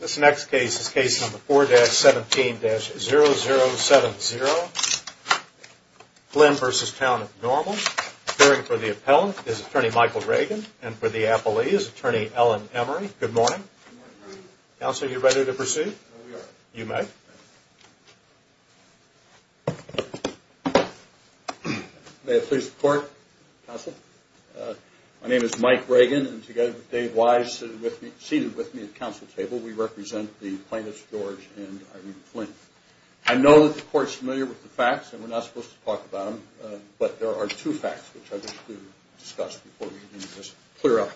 This next case is case number 4-17-0070, Glynn v. Town of Normal. Appearing for the appellant is attorney Michael Reagan, and for the appellee is attorney Ellen Emery. Good morning. Good morning. Counsel, are you ready to proceed? We are. You may. May I please report, counsel? My name is Mike Reagan, and together with Dave Wise seated with me at the counsel table, we represent the plaintiffs, George and Irene Glynn. I know that the court is familiar with the facts, and we're not supposed to talk about them, but there are two facts which I wish to discuss before we begin this clear-up.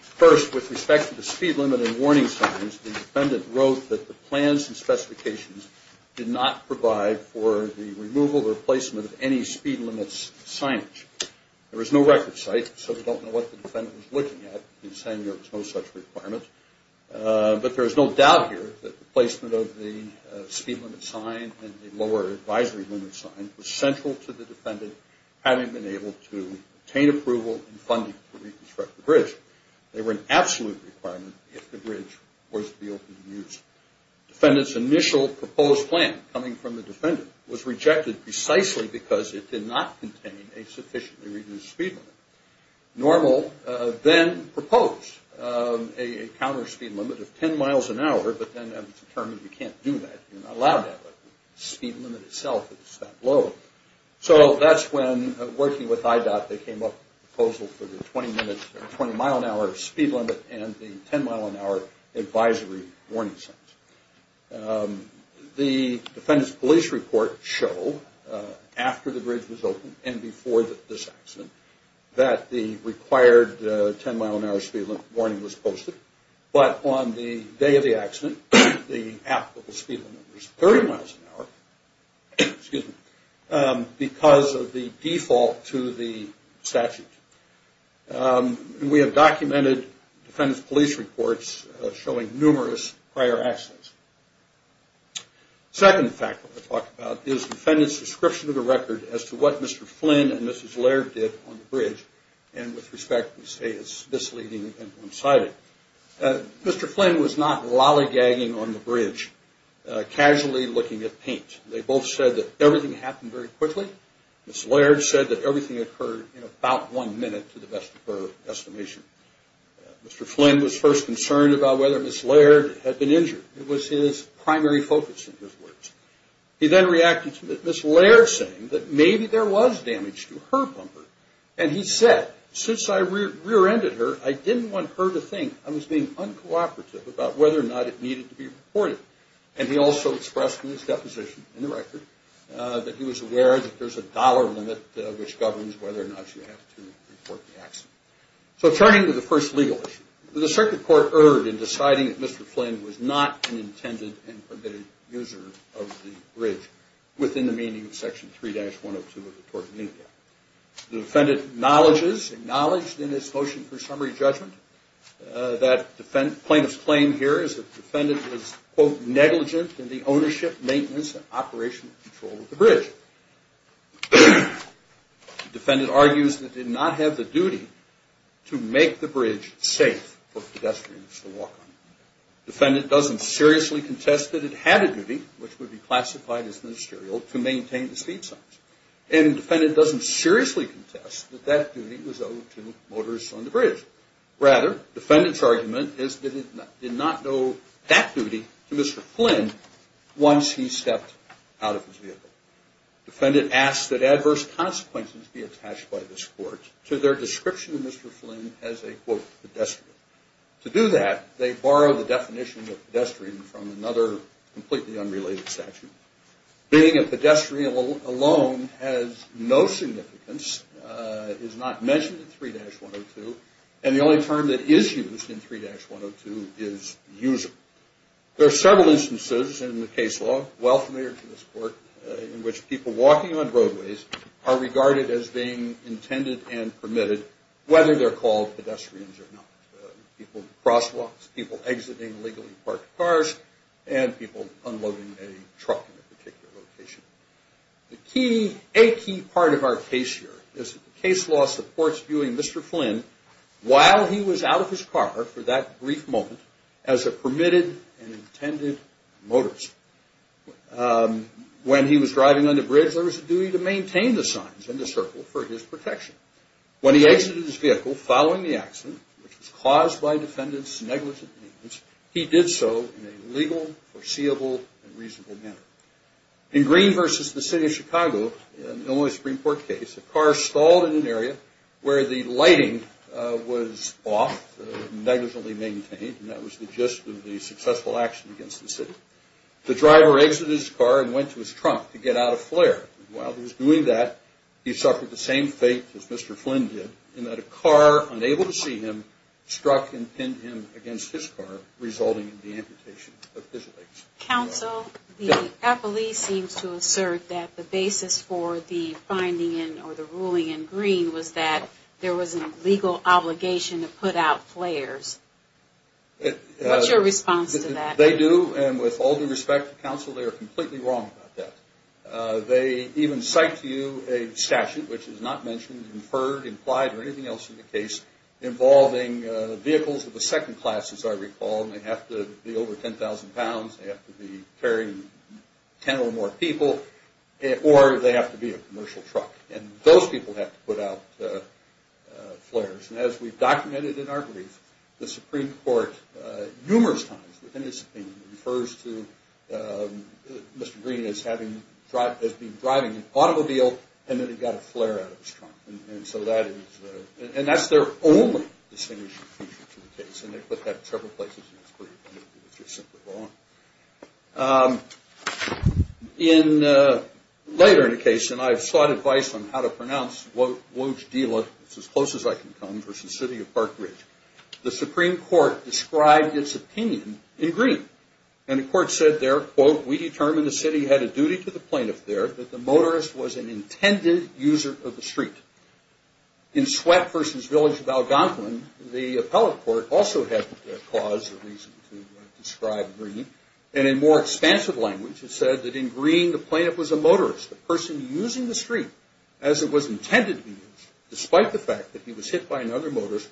First, with respect to the speed limit and warning signs, the defendant wrote that the plans and specifications did not provide for the removal or placement of any speed limits signage. There is no record site, so we don't know what the defendant was looking at in saying there was no such requirement. But there is no doubt here that the placement of the speed limit sign and the lower advisory limit sign was central to the defendant having been able to obtain approval and funding to reconstruct the bridge. They were an absolute requirement if the bridge was to be open to use. Defendant's initial proposed plan coming from the defendant was rejected precisely because it did not contain a sufficiently reduced speed limit. Normal then proposed a counter speed limit of 10 miles an hour, but then it was determined you can't do that. You're not allowed that, but the speed limit itself is that low. So that's when, working with IDOT, they came up with a proposal for the 20-mile-an-hour speed limit and the 10-mile-an-hour advisory warning signs. The defendant's police report showed after the bridge was open and before this accident that the required 10-mile-an-hour speed limit warning was posted. But on the day of the accident, the applicable speed limit was 30 miles an hour because of the default to the statute. We have documented defendant's police reports showing numerous prior accidents. The second fact I want to talk about is the defendant's description of the record as to what Mr. Flynn and Mrs. Laird did on the bridge, and with respect we say it's misleading and one-sided. Mr. Flynn was not lollygagging on the bridge, casually looking at paint. They both said that everything happened very quickly. Mrs. Laird said that everything occurred in about one minute to the best of her estimation. Mr. Flynn was first concerned about whether Mrs. Laird had been injured. It was his primary focus in his words. He then reacted to Mrs. Laird saying that maybe there was damage to her bumper. And he said, since I rear-ended her, I didn't want her to think I was being uncooperative about whether or not it needed to be reported. And he also expressed in his deposition, in the record, that he was aware that there's a dollar limit which governs whether or not you have to report the accident. So turning to the first legal issue. The circuit court erred in deciding that Mr. Flynn was not an intended and permitted user of the bridge within the meaning of Section 3-102 of the Tort of Needle Act. The defendant acknowledges, acknowledged in his motion for summary judgment, that plaintiff's claim here is that the defendant was, quote, negligent in the ownership, maintenance, and operational control of the bridge. The defendant argues that he did not have the duty to make the bridge safe for pedestrians to walk on. The defendant doesn't seriously contest that it had a duty, which would be classified as ministerial, to maintain the speed signs. And the defendant doesn't seriously contest that that duty was owed to motorists on the bridge. Rather, defendant's argument is that he did not owe that duty to Mr. Flynn once he stepped out of his vehicle. Defendant asks that adverse consequences be attached by this court to their description of Mr. Flynn as a, quote, pedestrian. To do that, they borrow the definition of pedestrian from another completely unrelated statute. Being a pedestrian alone has no significance, is not mentioned in 3-102, and the only term that is used in 3-102 is user. There are several instances in the case law, well familiar to this court, in which people walking on roadways are regarded as being intended and permitted, whether they're called pedestrians or not. People in crosswalks, people exiting illegally parked cars, and people unloading a truck in a particular location. A key part of our case here is that the case law supports viewing Mr. Flynn while he was out of his car for that brief moment as a permitted and intended motorist. When he was driving on the bridge, there was a duty to maintain the signs in the circle for his protection. When he exited his vehicle following the accident, which was caused by defendant's negligent means, he did so in a legal, foreseeable, and reasonable manner. In Green v. The City of Chicago, Illinois Supreme Court case, a car stalled in an area where the lighting was off, negligently maintained, and that was the gist of the successful action against the city. The driver exited his car and went to his trunk to get out of flare. While he was doing that, he suffered the same fate as Mr. Flynn did, in that a car, unable to see him, struck and pinned him against his car, resulting in the amputation of his legs. Counsel, the appellee seems to assert that the basis for the finding in, or the ruling in Green, was that there was a legal obligation to put out flares. What's your response to that? They do, and with all due respect to counsel, they are completely wrong about that. They even cite to you a statute, which is not mentioned, inferred, implied, or anything else in the case, involving vehicles of the second class, as I recall, and they have to be over 10,000 pounds, they have to be carrying 10 or more people, or they have to be a commercial truck. And those people have to put out flares. And as we've documented in our brief, the Supreme Court, numerous times within its opinion, refers to Mr. Green as being driving an automobile, and that he got a flare out of his trunk. And so that is, and that's their only distinguishing feature to the case, and they've put that in several places in this brief, and it's just simply wrong. Later in the case, and I've sought advice on how to pronounce Wojdyla, it's as close as I can come, versus the city of Park Ridge, the Supreme Court described its opinion in green. And the court said there, quote, We determined the city had a duty to the plaintiff there that the motorist was an intended user of the street. In Sweat versus Village of Algonquin, the appellate court also had cause or reason to describe green. And in more expansive language, it said that in green, the plaintiff was a motorist, a person using the street as it was intended to be used, despite the fact that he was hit by another motorist,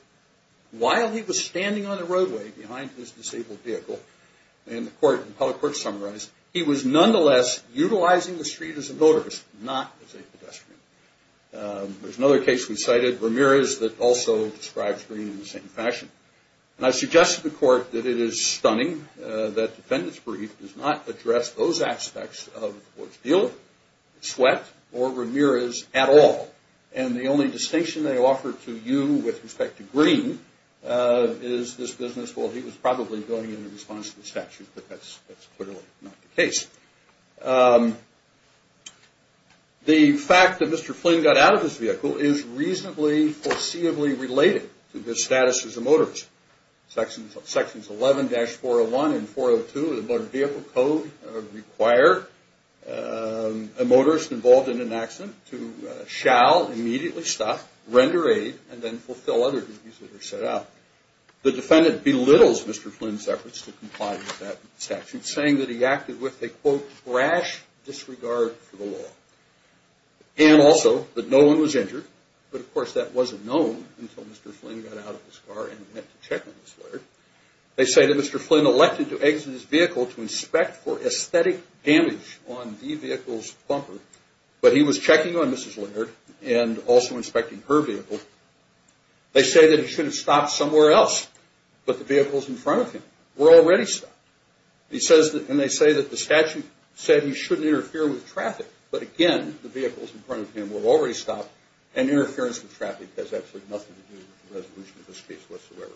while he was standing on the roadway behind his disabled vehicle. And the court, the appellate court summarized, he was nonetheless utilizing the street as a motorist, not as a pedestrian. There's another case we cited, Ramirez, that also describes green in the same fashion. And I suggest to the court that it is stunning that the defendant's brief does not address those aspects of Wojdyla, Sweat, or Ramirez at all. And the only distinction they offer to you with respect to green is this business, well, he was probably going in response to the statute, but that's clearly not the case. The fact that Mr. Flynn got out of his vehicle is reasonably foreseeably related to his status as a motorist. Sections 11-401 and 402 of the Motor Vehicle Code require a motorist involved in an accident to shall immediately stop, render aid, and then fulfill other duties that are set out. The defendant belittles Mr. Flynn's efforts to comply with that statute, saying that he acted with a, quote, thrash disregard for the law, and also that no one was injured. But, of course, that wasn't known until Mr. Flynn got out of his car and went to check on Mrs. Laird. They say that Mr. Flynn elected to exit his vehicle to inspect for aesthetic damage on the vehicle's bumper, but he was checking on Mrs. Laird and also inspecting her vehicle. They say that he should have stopped somewhere else, but the vehicles in front of him were already stopped. And they say that the statute said he shouldn't interfere with traffic. But, again, the vehicles in front of him were already stopped, and interference with traffic has absolutely nothing to do with the resolution of this case whatsoever.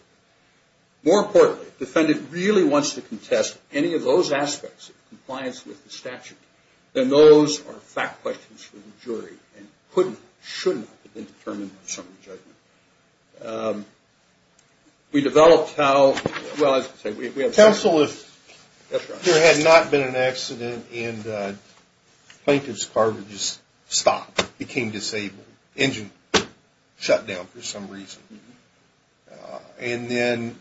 More importantly, if the defendant really wants to contest any of those aspects of compliance with the statute, then those are fact questions for the jury and couldn't, should not, have been determined by summary judgment. We developed how, well, as I say, we have counsel if there had not been an accident and plaintiff's car would just stop, became disabled, engine shut down for some reason. And then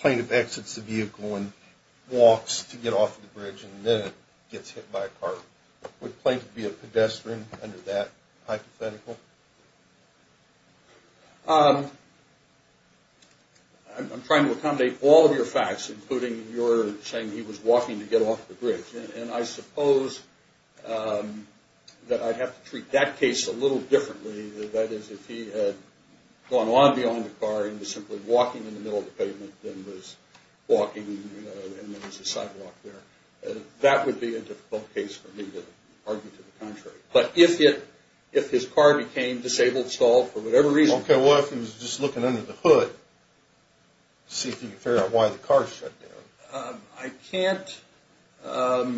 plaintiff exits the vehicle and walks to get off the bridge, and then it gets hit by a car. Would plaintiff be a pedestrian under that hypothetical? I'm trying to accommodate all of your facts, including your saying he was walking to get off the bridge. And I suppose that I'd have to treat that case a little differently. That is, if he had gone on beyond the car and was simply walking in the middle of the pavement and then was walking and there was a sidewalk there, that would be a difficult case for me to argue to the contrary. But if his car became disabled, stalled, for whatever reason... Okay, well, if he was just looking under the hood, see if you can figure out why the car shut down. I can't tell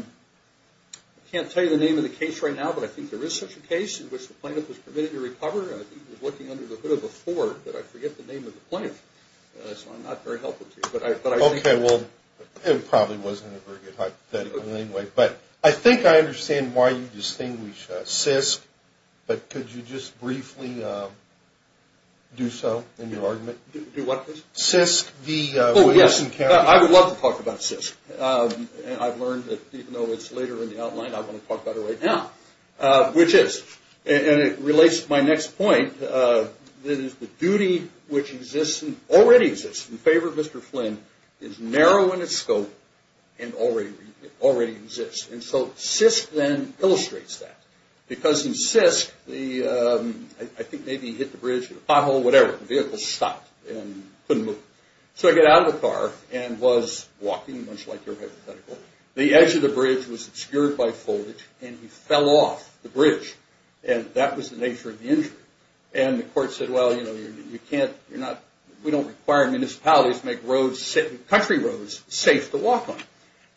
you the name of the case right now, but I think there is such a case in which the plaintiff was permitted to recover. He was looking under the hood of a Ford, but I forget the name of the plaintiff. So I'm not very helpful to you. Okay, well, it probably wasn't a very good hypothetical anyway. But I think I understand why you distinguish CISC, but could you just briefly do so in your argument? Do what, please? CISC, the Williamson County... Oh, yes, I would love to talk about CISC. I've learned that even though it's later in the outline, I want to talk about it right now, which is... And it relates to my next point. It is the duty which exists and already exists in favor of Mr. Flynn is narrow in its scope and already exists. And so CISC then illustrates that. Because in CISC, I think maybe he hit the bridge with a pothole, whatever. The vehicle stopped and couldn't move. So he got out of the car and was walking, much like your hypothetical. The edge of the bridge was obscured by foliage and he fell off the bridge. And that was the nature of the injury. And the court said, well, you know, we don't require municipalities to make country roads safe to walk on.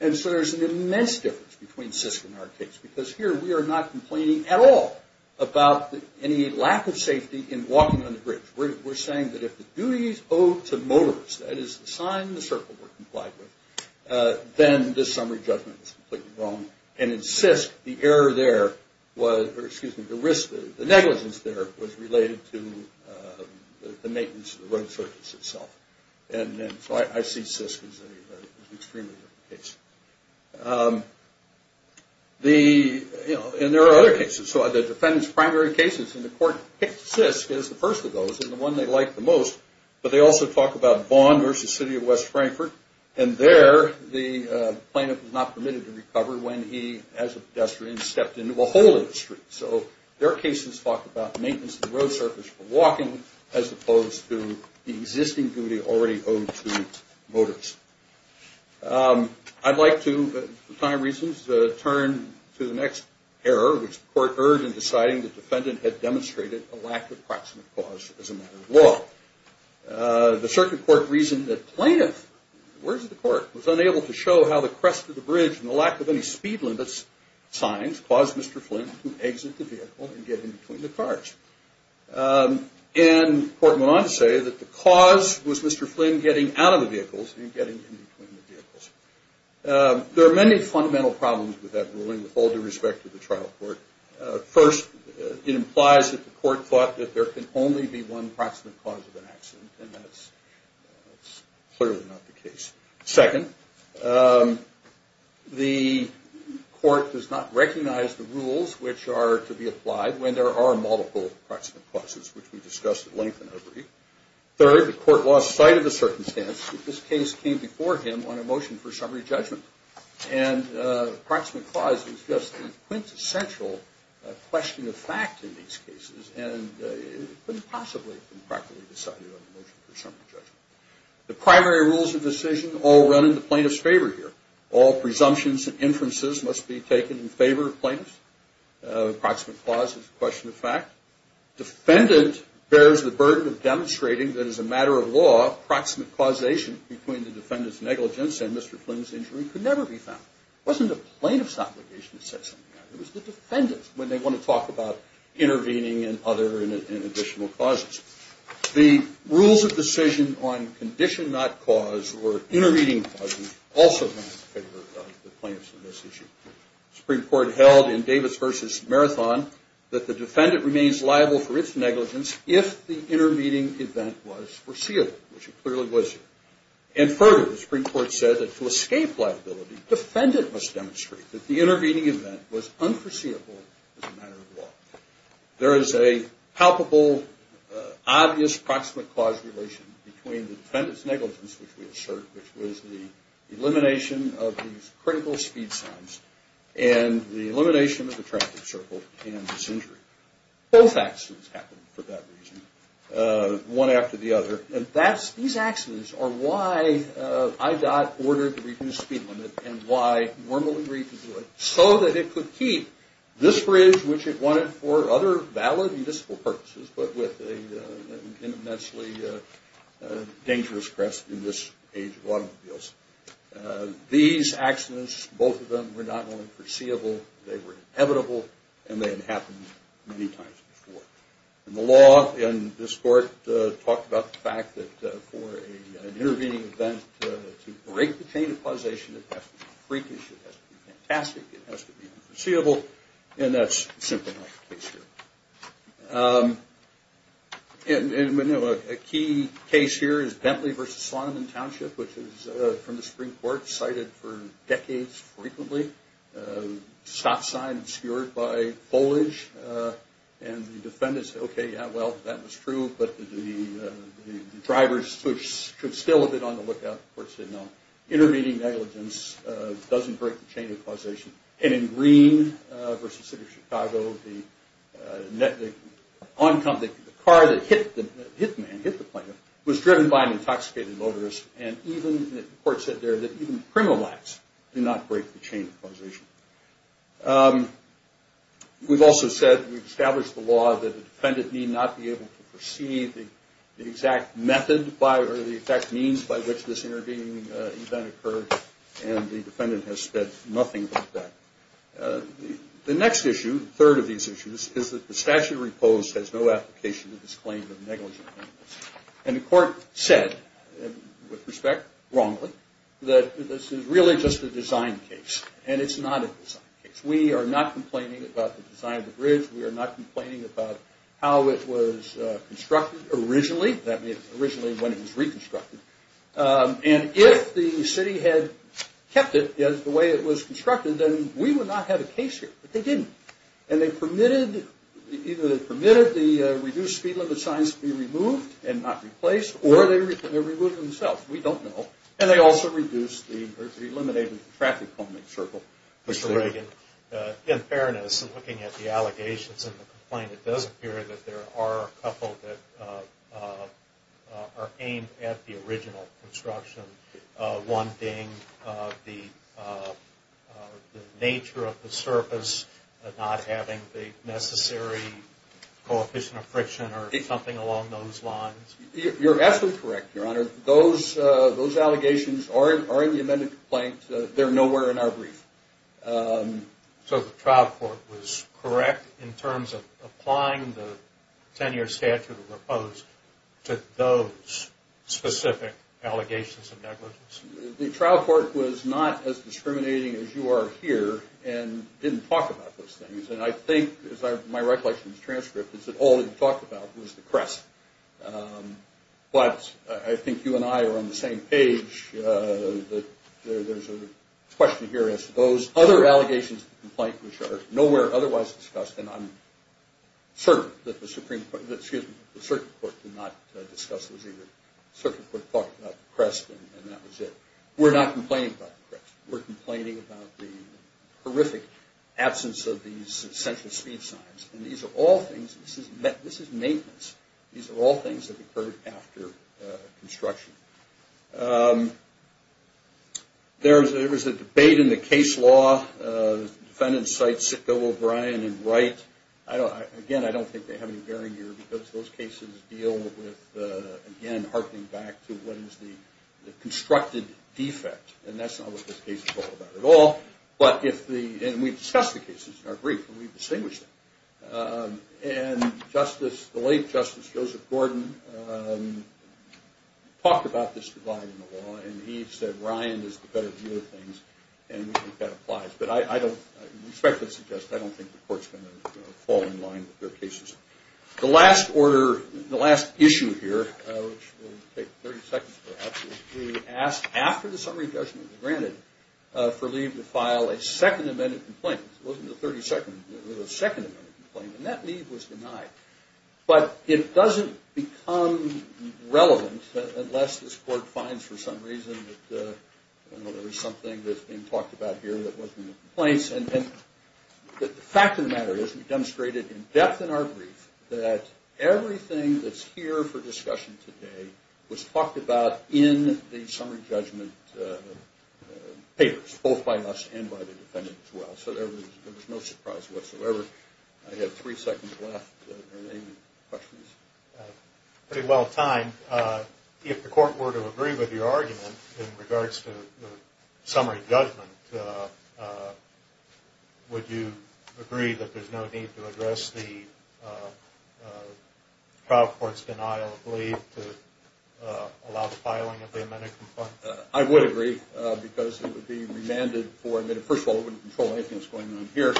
And so there's an immense difference between CISC and our case. Because here we are not complaining at all about any lack of safety in walking on the bridge. We're saying that if the duties owed to motorists, that is the sign and the circle we're complied with, then this summary judgment is completely wrong. And in CISC, the error there was... Excuse me, the negligence there was related to the maintenance of the road surface itself. And so I see CISC as an extremely different case. And there are other cases. So the defendant's primary cases in the court picked CISC as the first of those and the one they liked the most. But they also talk about Vaughan versus City of West Frankfurt. And there the plaintiff was not permitted to recover when he, as a pedestrian, stepped into a hole in the street. So their cases talk about maintenance of the road surface for walking as opposed to the existing duty already owed to motorists. I'd like to, for time reasons, turn to the next error, which the court heard in deciding the defendant had demonstrated a lack of proximate cause as a matter of law. The circuit court reasoned that plaintiff, the words of the court, was unable to show how the crest of the bridge and the lack of any speed limits signs caused Mr. Flynn to exit the vehicle and get in between the cars. And the court went on to say that the cause was Mr. Flynn getting out of the vehicles and getting in between the vehicles. There are many fundamental problems with that ruling with all due respect to the trial court. First, it implies that the court thought that there can only be one proximate cause of an accident. Second, the court does not recognize the rules which are to be applied when there are multiple proximate causes, which we discussed at length in our brief. Third, the court lost sight of the circumstance that this case came before him on a motion for summary judgment. And proximate cause is just a quintessential question of fact in these cases and couldn't possibly have been practically decided on a motion for summary judgment. The primary rules of decision all run in the plaintiff's favor here. All presumptions and inferences must be taken in favor of plaintiffs. Proximate cause is a question of fact. Defendant bears the burden of demonstrating that as a matter of law, proximate causation between the defendant's negligence and Mr. Flynn's injury could never be found. It wasn't the plaintiff's obligation to set something up. It was the defendant's when they want to talk about intervening and other and additional causes. The rules of decision on condition not cause or intervening causes also run in favor of the plaintiffs in this issue. The Supreme Court held in Davis v. Marathon that the defendant remains liable for its negligence if the intervening event was foreseeable, which it clearly was. And further, the Supreme Court said that to escape liability, defendant must demonstrate that the intervening event was unforeseeable as a matter of law. There is a palpable, obvious proximate cause relation between the defendant's negligence, which we assert, which was the elimination of these critical speed signs, and the elimination of the traffic circle and this injury. Both accidents happened for that reason, one after the other. And these accidents are why IDOT ordered the reduced speed limit so that it could keep this bridge, which it wanted for other valid municipal purposes, but with an immensely dangerous crest in this age of automobiles. These accidents, both of them, were not only foreseeable, they were inevitable, and they had happened many times before. And the law in this court talked about the fact that for an intervening event to break the chain of causation, it has to be freakish, it has to be fantastic, it has to be unforeseeable. And that's simply not the case here. And a key case here is Bentley v. Salomon Township, which is from the Supreme Court, cited for decades frequently. Stop sign obscured by foliage, and the defendant said, okay, yeah, well, that was true, but the drivers should still have been on the lookout. The court said, no, intervening negligence doesn't break the chain of causation. And in Greene v. City of Chicago, the car that hit the man, hit the plane, was driven by an intoxicated motorist. And the court said there that even criminal acts do not break the chain of causation. We've also said, we've established the law that the defendant need not be able to perceive the exact method or the exact means by which this intervening event occurred, and the defendant has said nothing about that. The next issue, the third of these issues, is that the statute of repose has no application to this claim of negligence. And the court said, with respect, wrongly, that this is really just a design case, and it's not a design case. We are not complaining about the design of the bridge. We are not complaining about how it was constructed originally. That means originally when it was reconstructed. And if the city had kept it as the way it was constructed, then we would not have a case here. But they didn't. And they permitted, either they permitted the reduced speed limit signs to be removed and not replaced, or they removed themselves. We don't know. And they also reduced the, or eliminated the traffic coming in the circle. Mr. Reagan, in fairness, looking at the allegations and the complaint, it does appear that there are a couple that are aimed at the original construction. One being the nature of the surface, not having the necessary coefficient of friction or something along those lines. You're absolutely correct, Your Honor. Those allegations are in the amended complaint. They're nowhere in our brief. So the trial court was correct in terms of applying the 10-year statute of opposed to those specific allegations of negligence? The trial court was not as discriminating as you are here and didn't talk about those things. And I think, as my recollection of the transcript is that all they talked about was the crest. But I think you and I are on the same page. There's a question here as to those other allegations of the complaint which are nowhere otherwise discussed, and I'm certain that the circuit court did not discuss those either. The circuit court talked about the crest, and that was it. We're not complaining about the crest. We're complaining about the horrific absence of these essential speed signs. And these are all things, this is maintenance. These are all things that occurred after construction. There was a debate in the case law. Defendants cite Sitka, O'Brien, and Wright. Again, I don't think they have any bearing here because those cases deal with, again, harkening back to what is the constructed defect. And that's not what this case is all about at all. And we've discussed the cases in our brief, and we've distinguished them. And the late Justice Joseph Gordon talked about this divide in the law, and he said Ryan is the better view of things, and we think that applies. But I respectfully suggest I don't think the court's going to fall in line with their cases. The last order, the last issue here, which will take 30 seconds perhaps, is to ask after the summary judgment is granted for Lee to file a Second Amendment complaint. It wasn't the 32nd. It was the Second Amendment complaint, and that, Lee, was denied. But it doesn't become relevant unless this court finds for some reason that, you know, there is something that's being talked about here that wasn't in the complaints. And the fact of the matter is we demonstrated in depth in our brief that everything that's here for discussion today was talked about in the summary judgment papers, both by us and by the defendant as well. So there was no surprise whatsoever. I have three seconds left. Are there any questions? Pretty well timed. If the court were to agree with your argument in regards to the summary judgment, would you agree that there's no need to address the trial court's denial of Lee to allow the filing of the amendment? I would agree because it would be remanded for a minute. First of all, it wouldn't control anything that's going on here.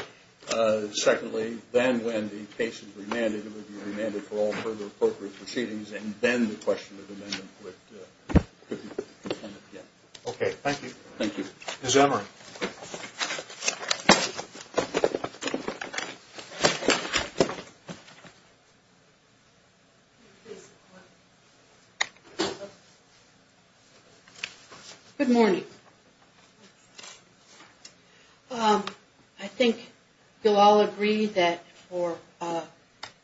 Secondly, then when the case is remanded, it would be remanded for all further appropriate proceedings, and then the question of amendment could be presented again. Okay. Thank you. Thank you. Ms. Emory. Good morning. I think you'll all agree that for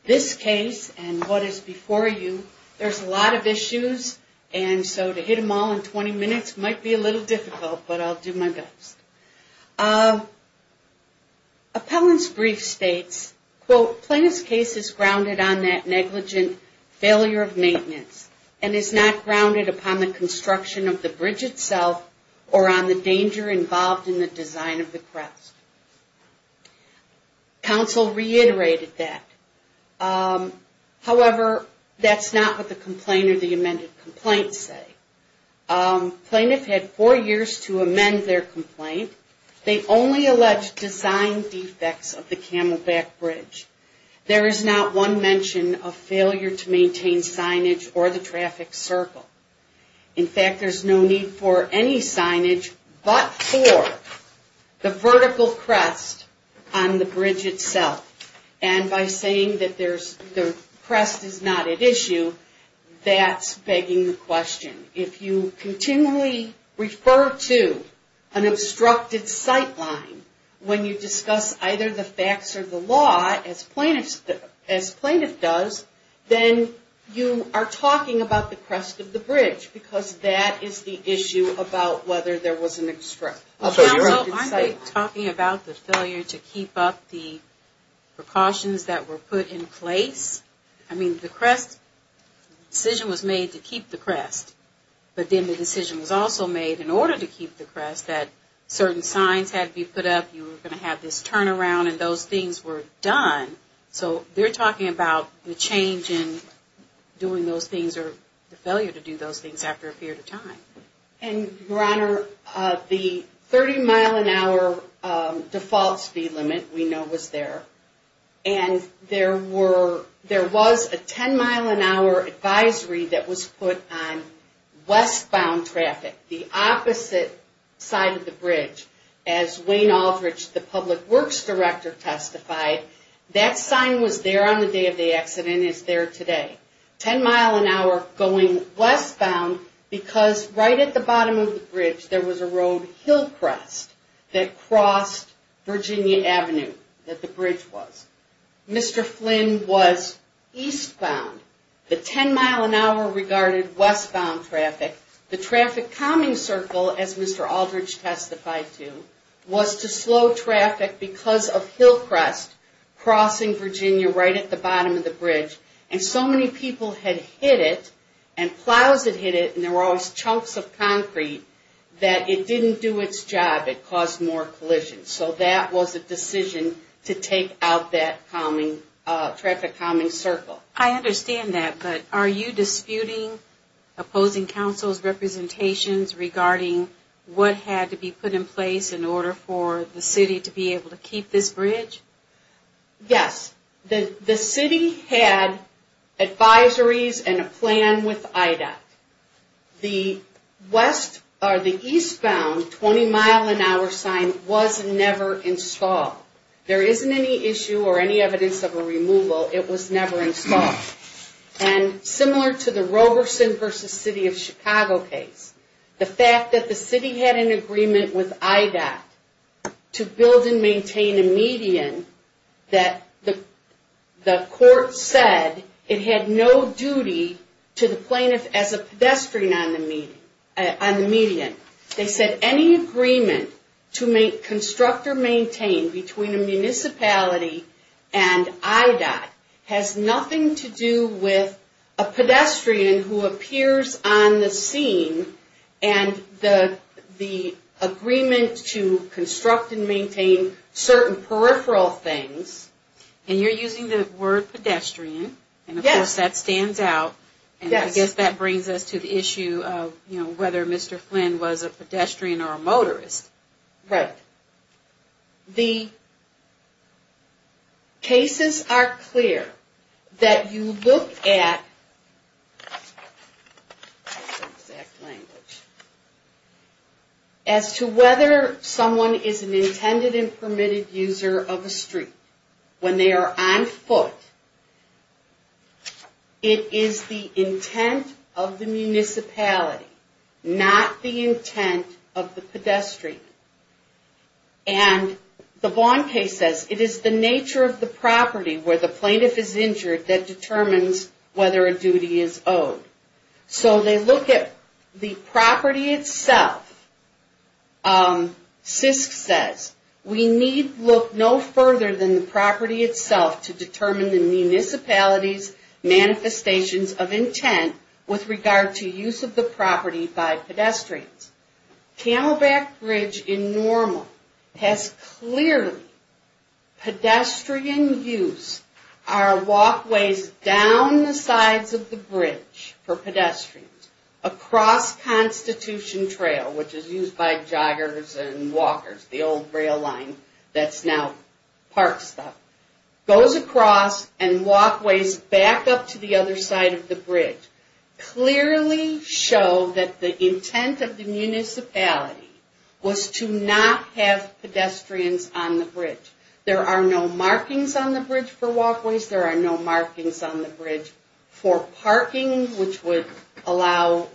this case and what is before you, there's a lot of issues, and so to hit them all in 20 minutes might be a little difficult, but I'll do my best. Appellant's brief states, quote, plaintiff's case is grounded on that negligent failure of maintenance and is not grounded upon the construction of the bridge itself or on the danger involved in the design of the crest. Counsel reiterated that. However, that's not what the complaint or the amended complaint say. Plaintiff had four years to amend their complaint. They only alleged design defects of the Camelback Bridge. There is not one mention of failure to maintain signage or the traffic circle. In fact, there's no need for any signage but for the vertical crest on the bridge itself, and by saying that the crest is not at issue, that's begging the question. If you continually refer to an obstructed sight line when you discuss either the facts or the law, as plaintiff does, then you are talking about the crest of the bridge because that is the issue about whether there was an obstructed sight. Counsel, aren't they talking about the failure to keep up the precautions that were put in place? I mean, the crest decision was made to keep the crest, but then the decision was also made in order to keep the crest that certain signs had to be put up, you were going to have this turnaround, and those things were done. So they're talking about the change in doing those things or the failure to do those things after a period of time. Your Honor, the 30-mile-an-hour default speed limit we know was there, and there was a 10-mile-an-hour advisory that was put on westbound traffic, the opposite side of the bridge, as Wayne Aldrich, the Public Works Director, testified. That sign was there on the day of the accident and is there today. 10-mile-an-hour going westbound because right at the bottom of the bridge there was a road, Hillcrest, that crossed Virginia Avenue, that the bridge was. Mr. Flynn was eastbound. The 10-mile-an-hour regarded westbound traffic. The traffic calming circle, as Mr. Aldrich testified to, was to slow traffic because of Hillcrest crossing Virginia right at the bottom of the bridge, and so many people had hit it, and plows had hit it, and there were always chunks of concrete, that it didn't do its job. It caused more collisions. So that was a decision to take out that traffic calming circle. I understand that, but are you disputing opposing counsel's representations regarding what had to be put in place in order for the city to be able to keep this bridge? Yes. The city had advisories and a plan with IDOT. The eastbound 20-mile-an-hour sign was never installed. There isn't any issue or any evidence of a removal. It was never installed. And similar to the Roberson v. City of Chicago case, the fact that the city had an agreement with IDOT to build and maintain a median, that the court said it had no duty to the plaintiff as a pedestrian on the median. They said any agreement to construct or maintain between a municipality and IDOT has nothing to do with a pedestrian who appears on the scene, and the agreement to construct and maintain certain peripheral things. And you're using the word pedestrian. Yes. And of course that stands out. Yes. And I guess that brings us to the issue of whether Mr. Flynn was a pedestrian or a motorist. Right. The cases are clear that you look at, as to whether someone is an intended and permitted user of a street when they are on foot. It is the intent of the municipality, not the intent of the pedestrian. And the Vaughn case says, it is the nature of the property where the plaintiff is injured that determines whether a duty is owed. So they look at the property itself. SISC says, we need look no further than the property itself to determine the municipality's manifestations of intent with regard to use of the property by pedestrians. Camelback Bridge in Normal has clearly pedestrian use. Our walkways down the sides of the bridge for pedestrians, across Constitution Trail, which is used by joggers and walkers, the old rail line that's now park stuff, goes across and walkways back up to the other side of the bridge, clearly show that the intent of the municipality was to not have pedestrians on the bridge. There are no markings on the bridge for walkways. There are no markings on the bridge for parking, which would allow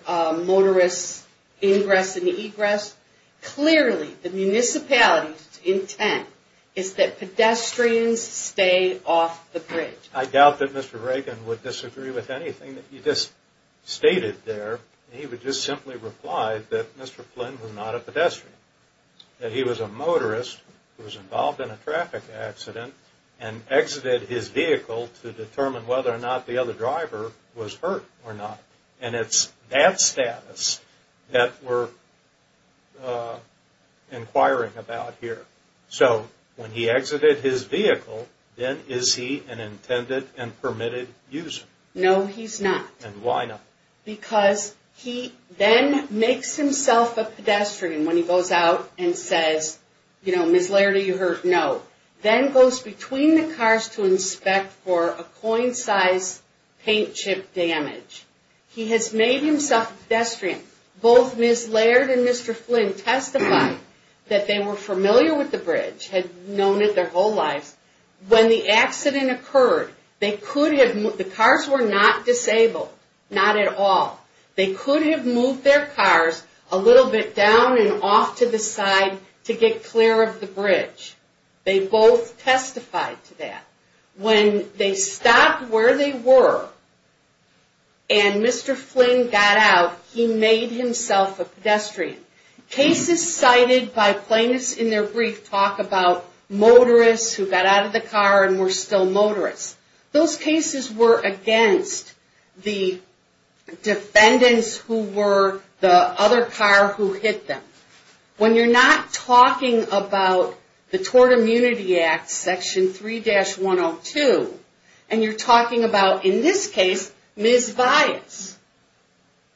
motorists ingress and egress. Clearly the municipality's intent is that pedestrians stay off the bridge. I doubt that Mr. Reagan would disagree with anything that he just stated there. He would just simply reply that Mr. Flynn was not a pedestrian, that he was a motorist who was involved in a traffic accident and exited his vehicle to determine whether or not the other driver was hurt or not. And it's that status that we're inquiring about here. So, when he exited his vehicle, then is he an intended and permitted user? No, he's not. And why not? Because he then makes himself a pedestrian when he goes out and says, you know, Ms. Laird, are you hurt? No. Then goes between the cars to inspect for a coin-sized paint chip damage. He has made himself a pedestrian. Both Ms. Laird and Mr. Flynn testified that they were familiar with the bridge, had known it their whole lives. When the accident occurred, the cars were not disabled, not at all. They could have moved their cars a little bit down and off to the side to get clear of the bridge. They both testified to that. When they stopped where they were and Mr. Flynn got out, he made himself a pedestrian. Cases cited by plaintiffs in their brief talk about motorists who got out of the car and were still motorists. Those cases were against the defendants who were the other car who hit them. When you're not talking about the Tort Immunity Act, Section 3-102, and you're talking about, in this case, Ms. Vias,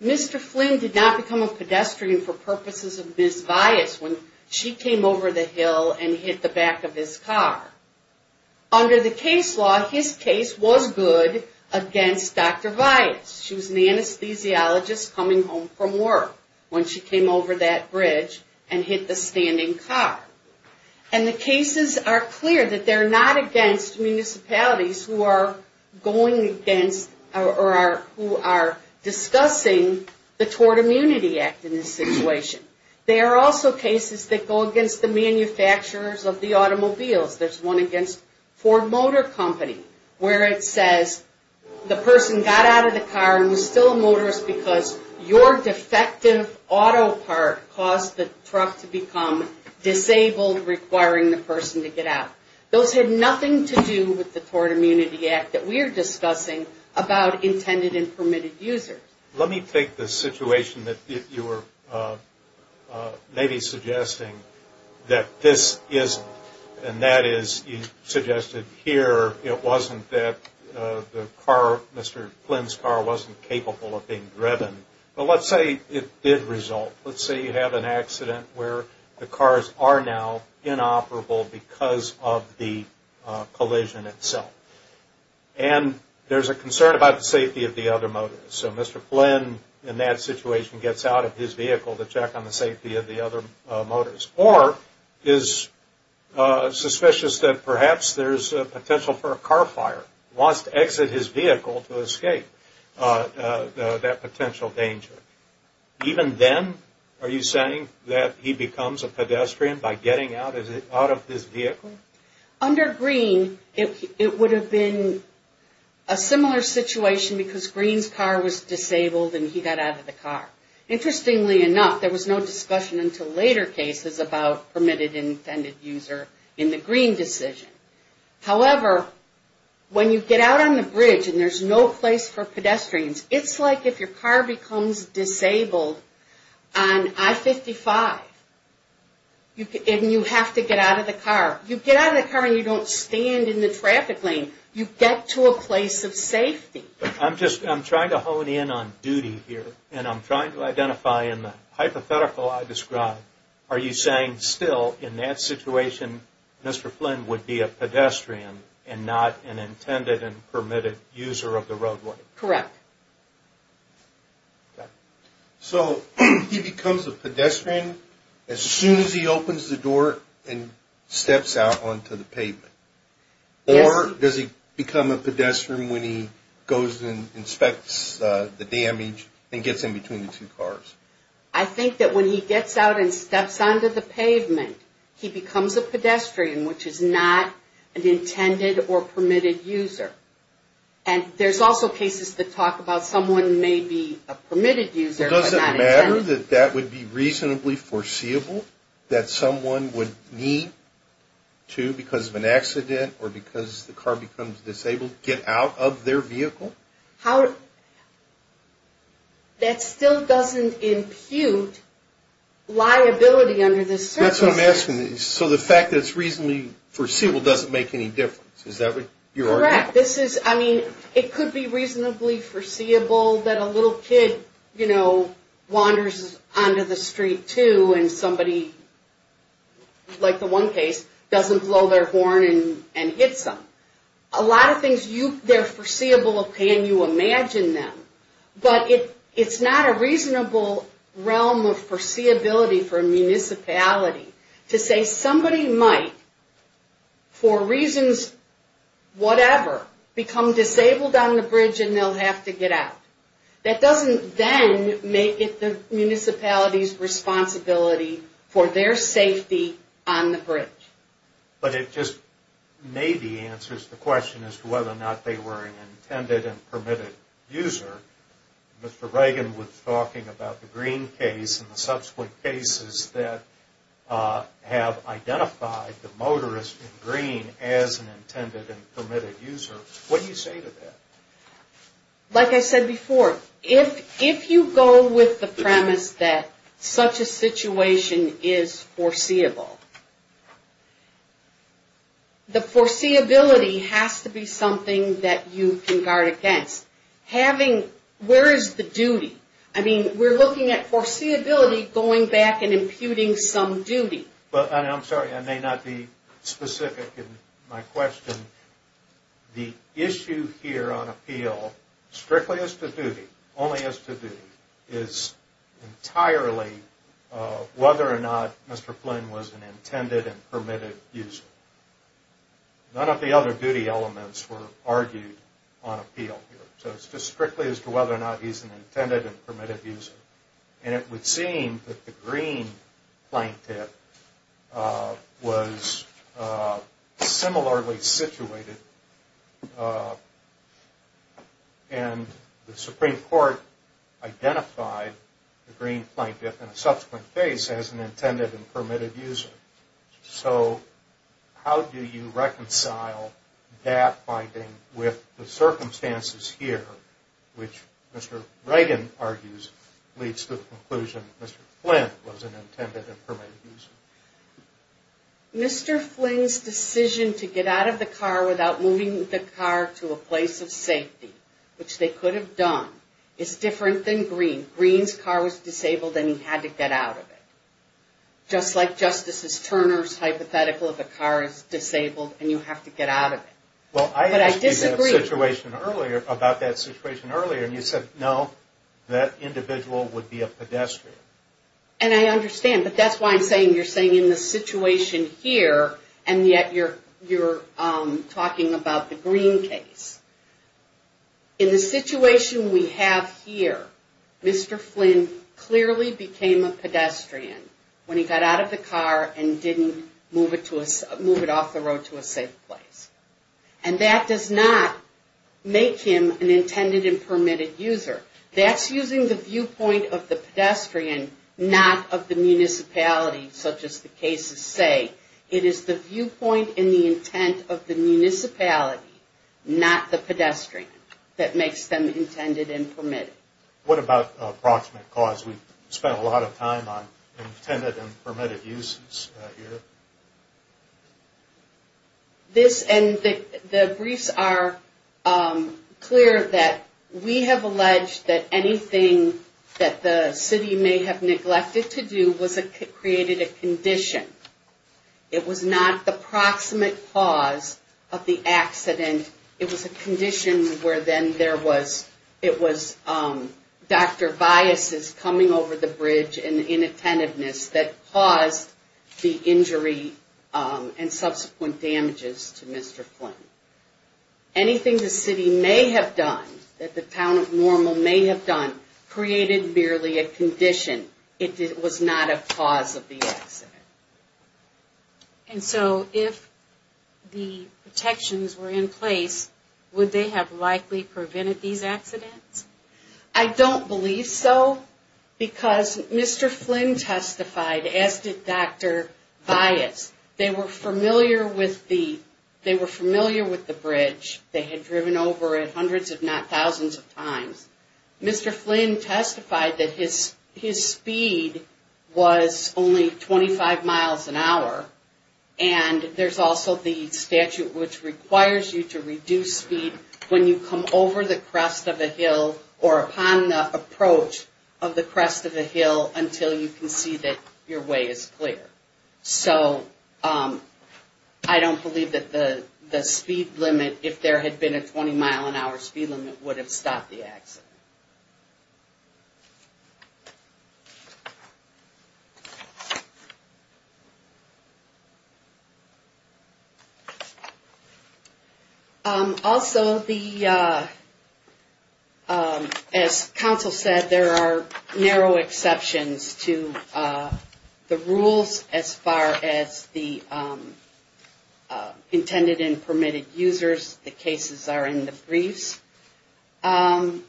Mr. Flynn did not become a pedestrian for purposes of Ms. Vias when she came over the hill and hit the back of his car. Under the case law, his case was good against Dr. Vias. She was an anesthesiologist coming home from work when she came over that bridge and hit the standing car. And the cases are clear that they're not against municipalities who are going against or who are discussing the Tort Immunity Act in this situation. They are also cases that go against the manufacturers of the automobiles. There's one against Ford Motor Company where it says the person got out of the car and was still a motorist because your defective auto part caused the truck to become disabled, requiring the person to get out. Those had nothing to do with the Tort Immunity Act that we are discussing about intended and permitted users. Let me take the situation that you were maybe suggesting that this isn't, and that is you suggested here it wasn't that the car, Mr. Flynn's car, wasn't capable of being driven. But let's say it did result. Let's say you have an accident where the cars are now inoperable because of the collision itself. And there's a concern about the safety of the other motorists. So Mr. Flynn in that situation gets out of his vehicle to check on the safety of the other motorists, or is suspicious that perhaps there's a potential for a car fire, wants to exit his vehicle to escape that potential danger. Even then are you saying that he becomes a pedestrian by getting out of his vehicle? Under Greene, it would have been a similar situation because Greene's car was disabled and he got out of the car. Interestingly enough, there was no discussion until later cases about permitted and intended user in the Greene decision. However, when you get out on the bridge and there's no place for pedestrians, it's like if your car becomes disabled on I-55 and you have to get out of the car. You get out of the car and you don't stand in the traffic lane. You get to a place of safety. I'm trying to hone in on duty here, and I'm trying to identify in the hypothetical I described, are you saying still in that situation Mr. Flynn would be a pedestrian and not an intended and permitted user of the roadway? Correct. So he becomes a pedestrian as soon as he opens the door and steps out onto the pavement? Yes. Or does he become a pedestrian when he goes and inspects the damage and gets in between the two cars? I think that when he gets out and steps onto the pavement, he becomes a pedestrian, which is not an intended or permitted user. And there's also cases that talk about someone may be a permitted user but not intended. Does it matter that that would be reasonably foreseeable, that someone would need to, because of an accident or because the car becomes disabled, get out of their vehicle? That still doesn't impute liability under this circumstance. That's what I'm asking. So the fact that it's reasonably foreseeable doesn't make any difference? Correct. I mean, it could be reasonably foreseeable that a little kid, you know, wanders onto the street too and somebody, like the one case, doesn't blow their horn and hits them. A lot of things, they're foreseeable, okay, and you imagine them. But it's not a reasonable realm of foreseeability for a municipality to say somebody might, for reasons whatever, become disabled on the bridge and they'll have to get out. That doesn't then make it the municipality's responsibility for their safety on the bridge. But it just maybe answers the question as to whether or not they were an intended and permitted user. Mr. Reagan was talking about the Green case and the subsequent cases that have identified the motorist in Green as an intended and permitted user. What do you say to that? Like I said before, if you go with the premise that such a situation is foreseeable, the foreseeability has to be something that you can guard against. Where is the duty? I mean, we're looking at foreseeability going back and imputing some duty. I'm sorry, I may not be specific in my question. The issue here on appeal, strictly as to duty, only as to duty, is entirely whether or not Mr. Flynn was an intended and permitted user. None of the other duty elements were argued on appeal here. So it's just strictly as to whether or not he's an intended and permitted user. And it would seem that the Green plaintiff was similarly situated, and the Supreme Court identified the Green plaintiff in a subsequent case as an intended and permitted user. So how do you reconcile that finding with the circumstances here, which Mr. Reagan argues leads to the conclusion that Mr. Flynn was an intended and permitted user? Mr. Flynn's decision to get out of the car without moving the car to a place of safety, which they could have done, is different than Green. Green's car was disabled and he had to get out of it. Just like Justices Turner's hypothetical of the car is disabled and you have to get out of it. But I disagree. Well, I asked you that situation earlier, about that situation earlier, and you said, no, that individual would be a pedestrian. And I understand, but that's why I'm saying you're saying in the situation here, and yet you're talking about the Green case. In the situation we have here, Mr. Flynn clearly became a pedestrian when he got out of the car and didn't move it off the road to a safe place. And that does not make him an intended and permitted user. That's using the viewpoint of the pedestrian, not of the municipality, such as the cases say. It is the viewpoint and the intent of the municipality, not the pedestrian, that makes them intended and permitted. What about approximate cause? We've spent a lot of time on intended and permitted uses here. This, and the briefs are clear that we have alleged that anything that the city may have neglected to do created a condition. It was not the proximate cause of the accident. It was a condition where then there was Dr. Bias' coming over the bridge and inattentiveness that caused the injury and subsequent damages to Mr. Flynn. Anything the city may have done, that the town of Normal may have done, created merely a condition. It was not a cause of the accident. And so if the protections were in place, would they have likely prevented these accidents? I don't believe so because Mr. Flynn testified, as did Dr. Bias. They were familiar with the bridge. They had driven over it hundreds if not thousands of times. Mr. Flynn testified that his speed was only 25 miles an hour, and there's also the statute which requires you to reduce speed when you come over the crest of a hill or upon the approach of the crest of a hill until you can see that your way is clear. So I don't believe that the speed limit, if there had been a 20-mile-an-hour speed limit, would have stopped the accident. Also, as counsel said, there are narrow exceptions to the rules as far as the intended and permitted users. The cases are in the briefs. I'm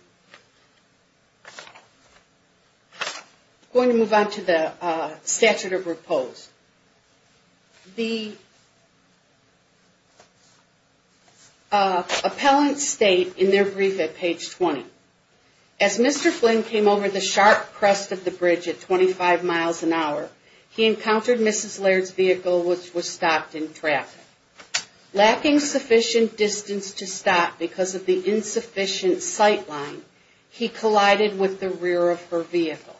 going to move on to the statute of repose. The appellants state in their brief at page 20, as Mr. Flynn came over the sharp crest of the bridge at 25 miles an hour, he encountered Mrs. Laird's vehicle which was stopped in traffic. Lacking sufficient distance to stop because of the insufficient sight line, he collided with the rear of her vehicle.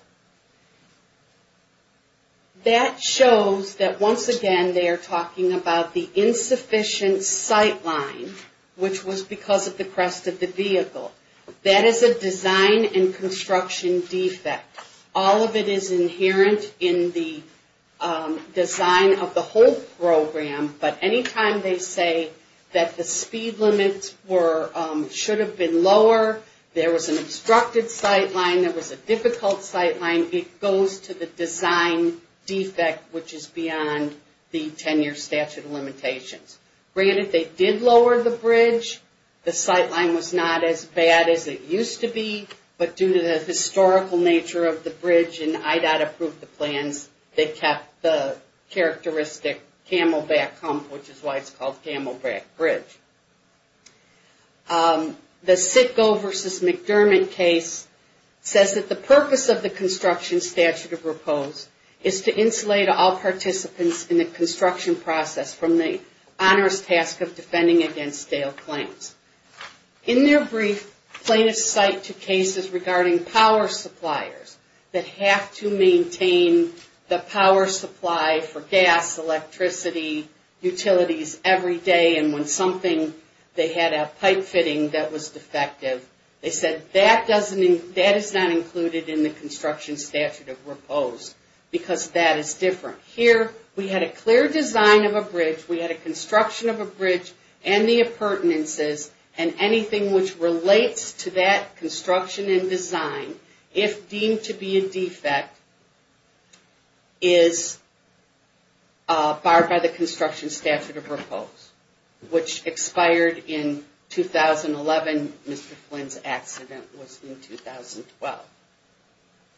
That shows that, once again, they are talking about the insufficient sight line, which was because of the crest of the vehicle. That is a design and construction defect. All of it is inherent in the design of the whole program, but anytime they say that the speed limits should have been lower, there was an obstructed sight line, there was a difficult sight line, it goes to the design defect, which is beyond the 10-year statute of limitations. Granted, they did lower the bridge. The sight line was not as bad as it used to be, but due to the historical nature of the bridge and IDOT approved the plans, they kept the characteristic Camelback hump, which is why it's called Camelback Bridge. The Sitcoe v. McDermott case says that the purpose of the construction statute of repose is to insulate all participants in the construction process from the onerous task of defending against stale claims. In their brief, plaintiffs cite two cases regarding power suppliers that have to maintain the power supply for gas, electricity, utilities every day, and when something, they had a pipe fitting that was defective, they said that is not included in the construction statute of repose because that is different. Here, we had a clear design of a bridge, we had a construction of a bridge, and the appurtenances and anything which relates to that construction and design, if deemed to be a defect, is barred by the construction statute of repose, which expired in 2011. Mr. Flynn's accident was in 2012.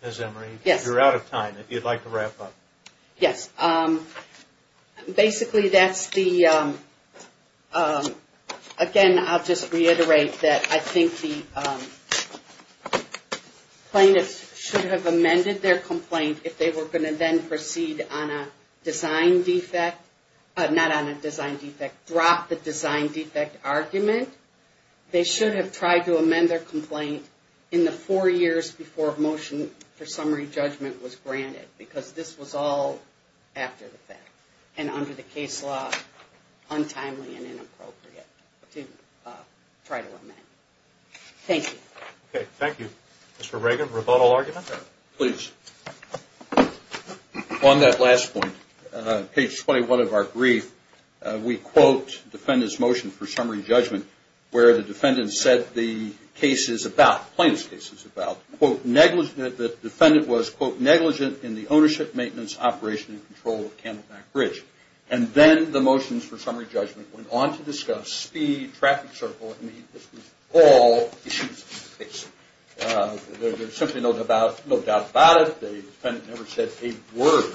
Ms. Emery, you're out of time. If you'd like to wrap up. Yes. Basically, that's the, again, I'll just reiterate that I think the plaintiffs should have amended their complaint if they were going to then proceed on a design defect, not on a design defect, drop the design defect argument. They should have tried to amend their complaint in the four years before a motion for summary judgment was granted because this was all after the fact and under the case law, untimely and inappropriate to try to amend. Thank you. Okay, thank you. Mr. Reagan, rebuttal argument? Please. On that last point, page 21 of our brief, we quote defendant's motion for summary judgment where the defendant said the case is about, plaintiff's case is about, quote, the defendant was, quote, negligent in the ownership, maintenance, operation, and control of Candleback Bridge. And then the motions for summary judgment went on to discuss speed, traffic circle, and all issues of the case. There's simply no doubt about it. The defendant never said a word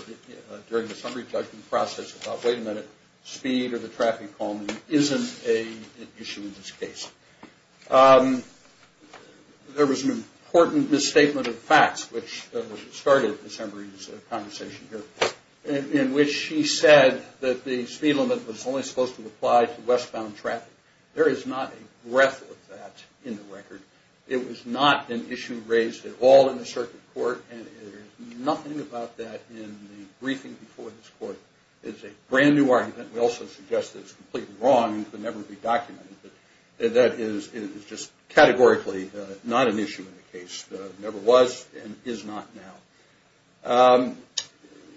during the summary judgment process about, wait a minute, speed or the traffic calming isn't an issue in this case. There was an important misstatement of facts, which started December's conversation here, in which she said that the speed limit was only supposed to apply to westbound traffic. There is not a breath of that in the record. It was not an issue raised at all in the circuit court, and there's nothing about that in the briefing before this court. It's a brand new argument. We also suggest that it's completely wrong and could never be documented. That is just categorically not an issue in the case. Never was and is not now.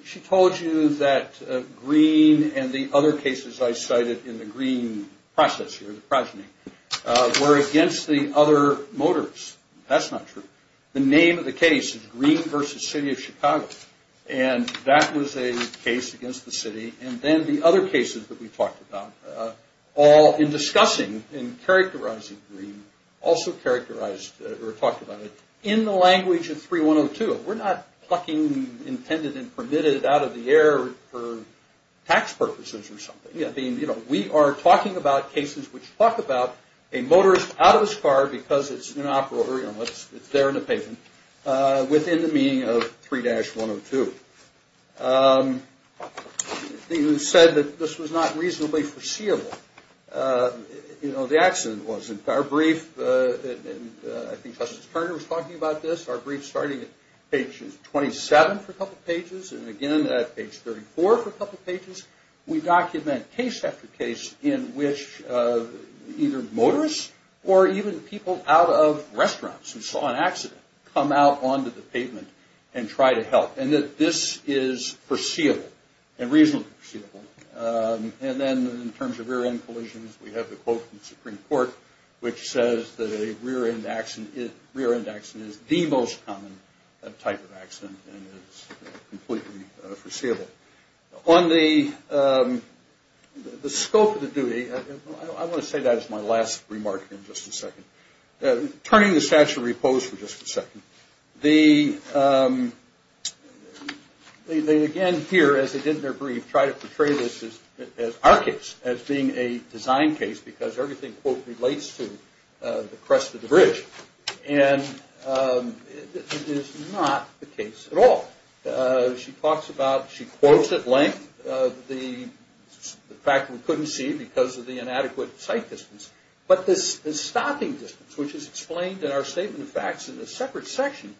She told you that Green and the other cases I cited in the Green process here, the progeny, were against the other motors. That's not true. The name of the case is Green v. City of Chicago. And that was a case against the city. And then the other cases that we talked about, all in discussing and characterizing Green, also talked about it in the language of 3102. We're not plucking intended and permitted out of the air for tax purposes or something. We are talking about cases which talk about a motorist out of his car because it's inoperable, or it's there in the pavement, within the meaning of 3-102. You said that this was not reasonably foreseeable. The accident wasn't. Our brief, I think Justice Turner was talking about this, our brief starting at page 27 for a couple pages, and again at page 34 for a couple pages, we document case after case in which either motorists or even people out of restaurants who saw an accident come out onto the pavement and try to help, and that this is foreseeable and reasonably foreseeable. And then in terms of rear-end collisions, we have the quote from the Supreme Court, which says that a rear-end accident is the most common type of accident and is completely foreseeable. On the scope of the duty, I want to say that as my last remark in just a second. Turning the statute of repose for just a second, they again here, as they did in their brief, try to portray this as our case, as being a design case because everything, quote, relates to the crest of the bridge, and it is not the case at all. She talks about, she quotes at length the fact that we couldn't see because of the inadequate sight distance, but the stopping distance, which is explained in our statement of facts in a separate section,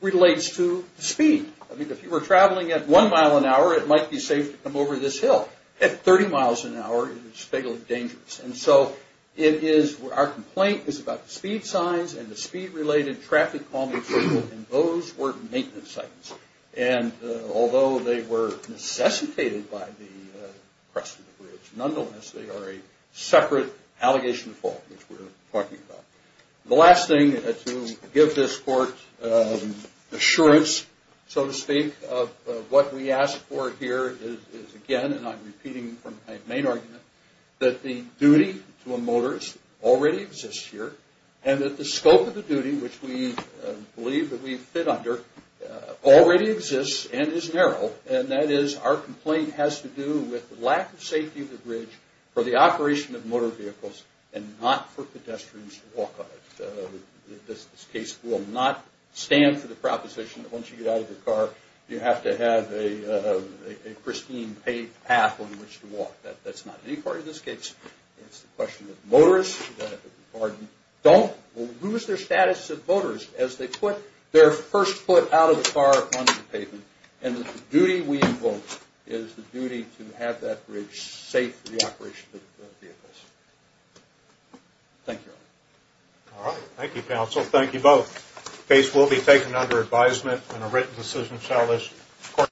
relates to speed. I mean, if you were traveling at one mile an hour, it might be safe to come over this hill. At 30 miles an hour, it is fatally dangerous. And so it is, our complaint is about the speed signs and the speed-related traffic calming signal, and those were maintenance signs. And although they were necessitated by the crest of the bridge, nonetheless, they are a separate allegation of fault, which we're talking about. The last thing to give this court assurance, so to speak, of what we ask for here is, again, and I'm repeating from my main argument, that the duty to a motorist already exists here, and that the scope of the duty, which we believe that we fit under, already exists and is narrow, and that is our complaint has to do with the lack of safety of the bridge for the operation of motor vehicles and not for pedestrians to walk on it. This case will not stand for the proposition that once you get out of your car, you have to have a pristine paved path on which to walk. That's not any part of this case. It's the question that motorists, pardon, don't lose their status as motorists as they put their first foot out of the car onto the pavement, and that the duty we invoke is the duty to have that bridge safe for the operation of vehicles. Thank you, Your Honor. All right. Thank you, counsel. Thank you both. The case will be taken under advisement, and a written decision shall list.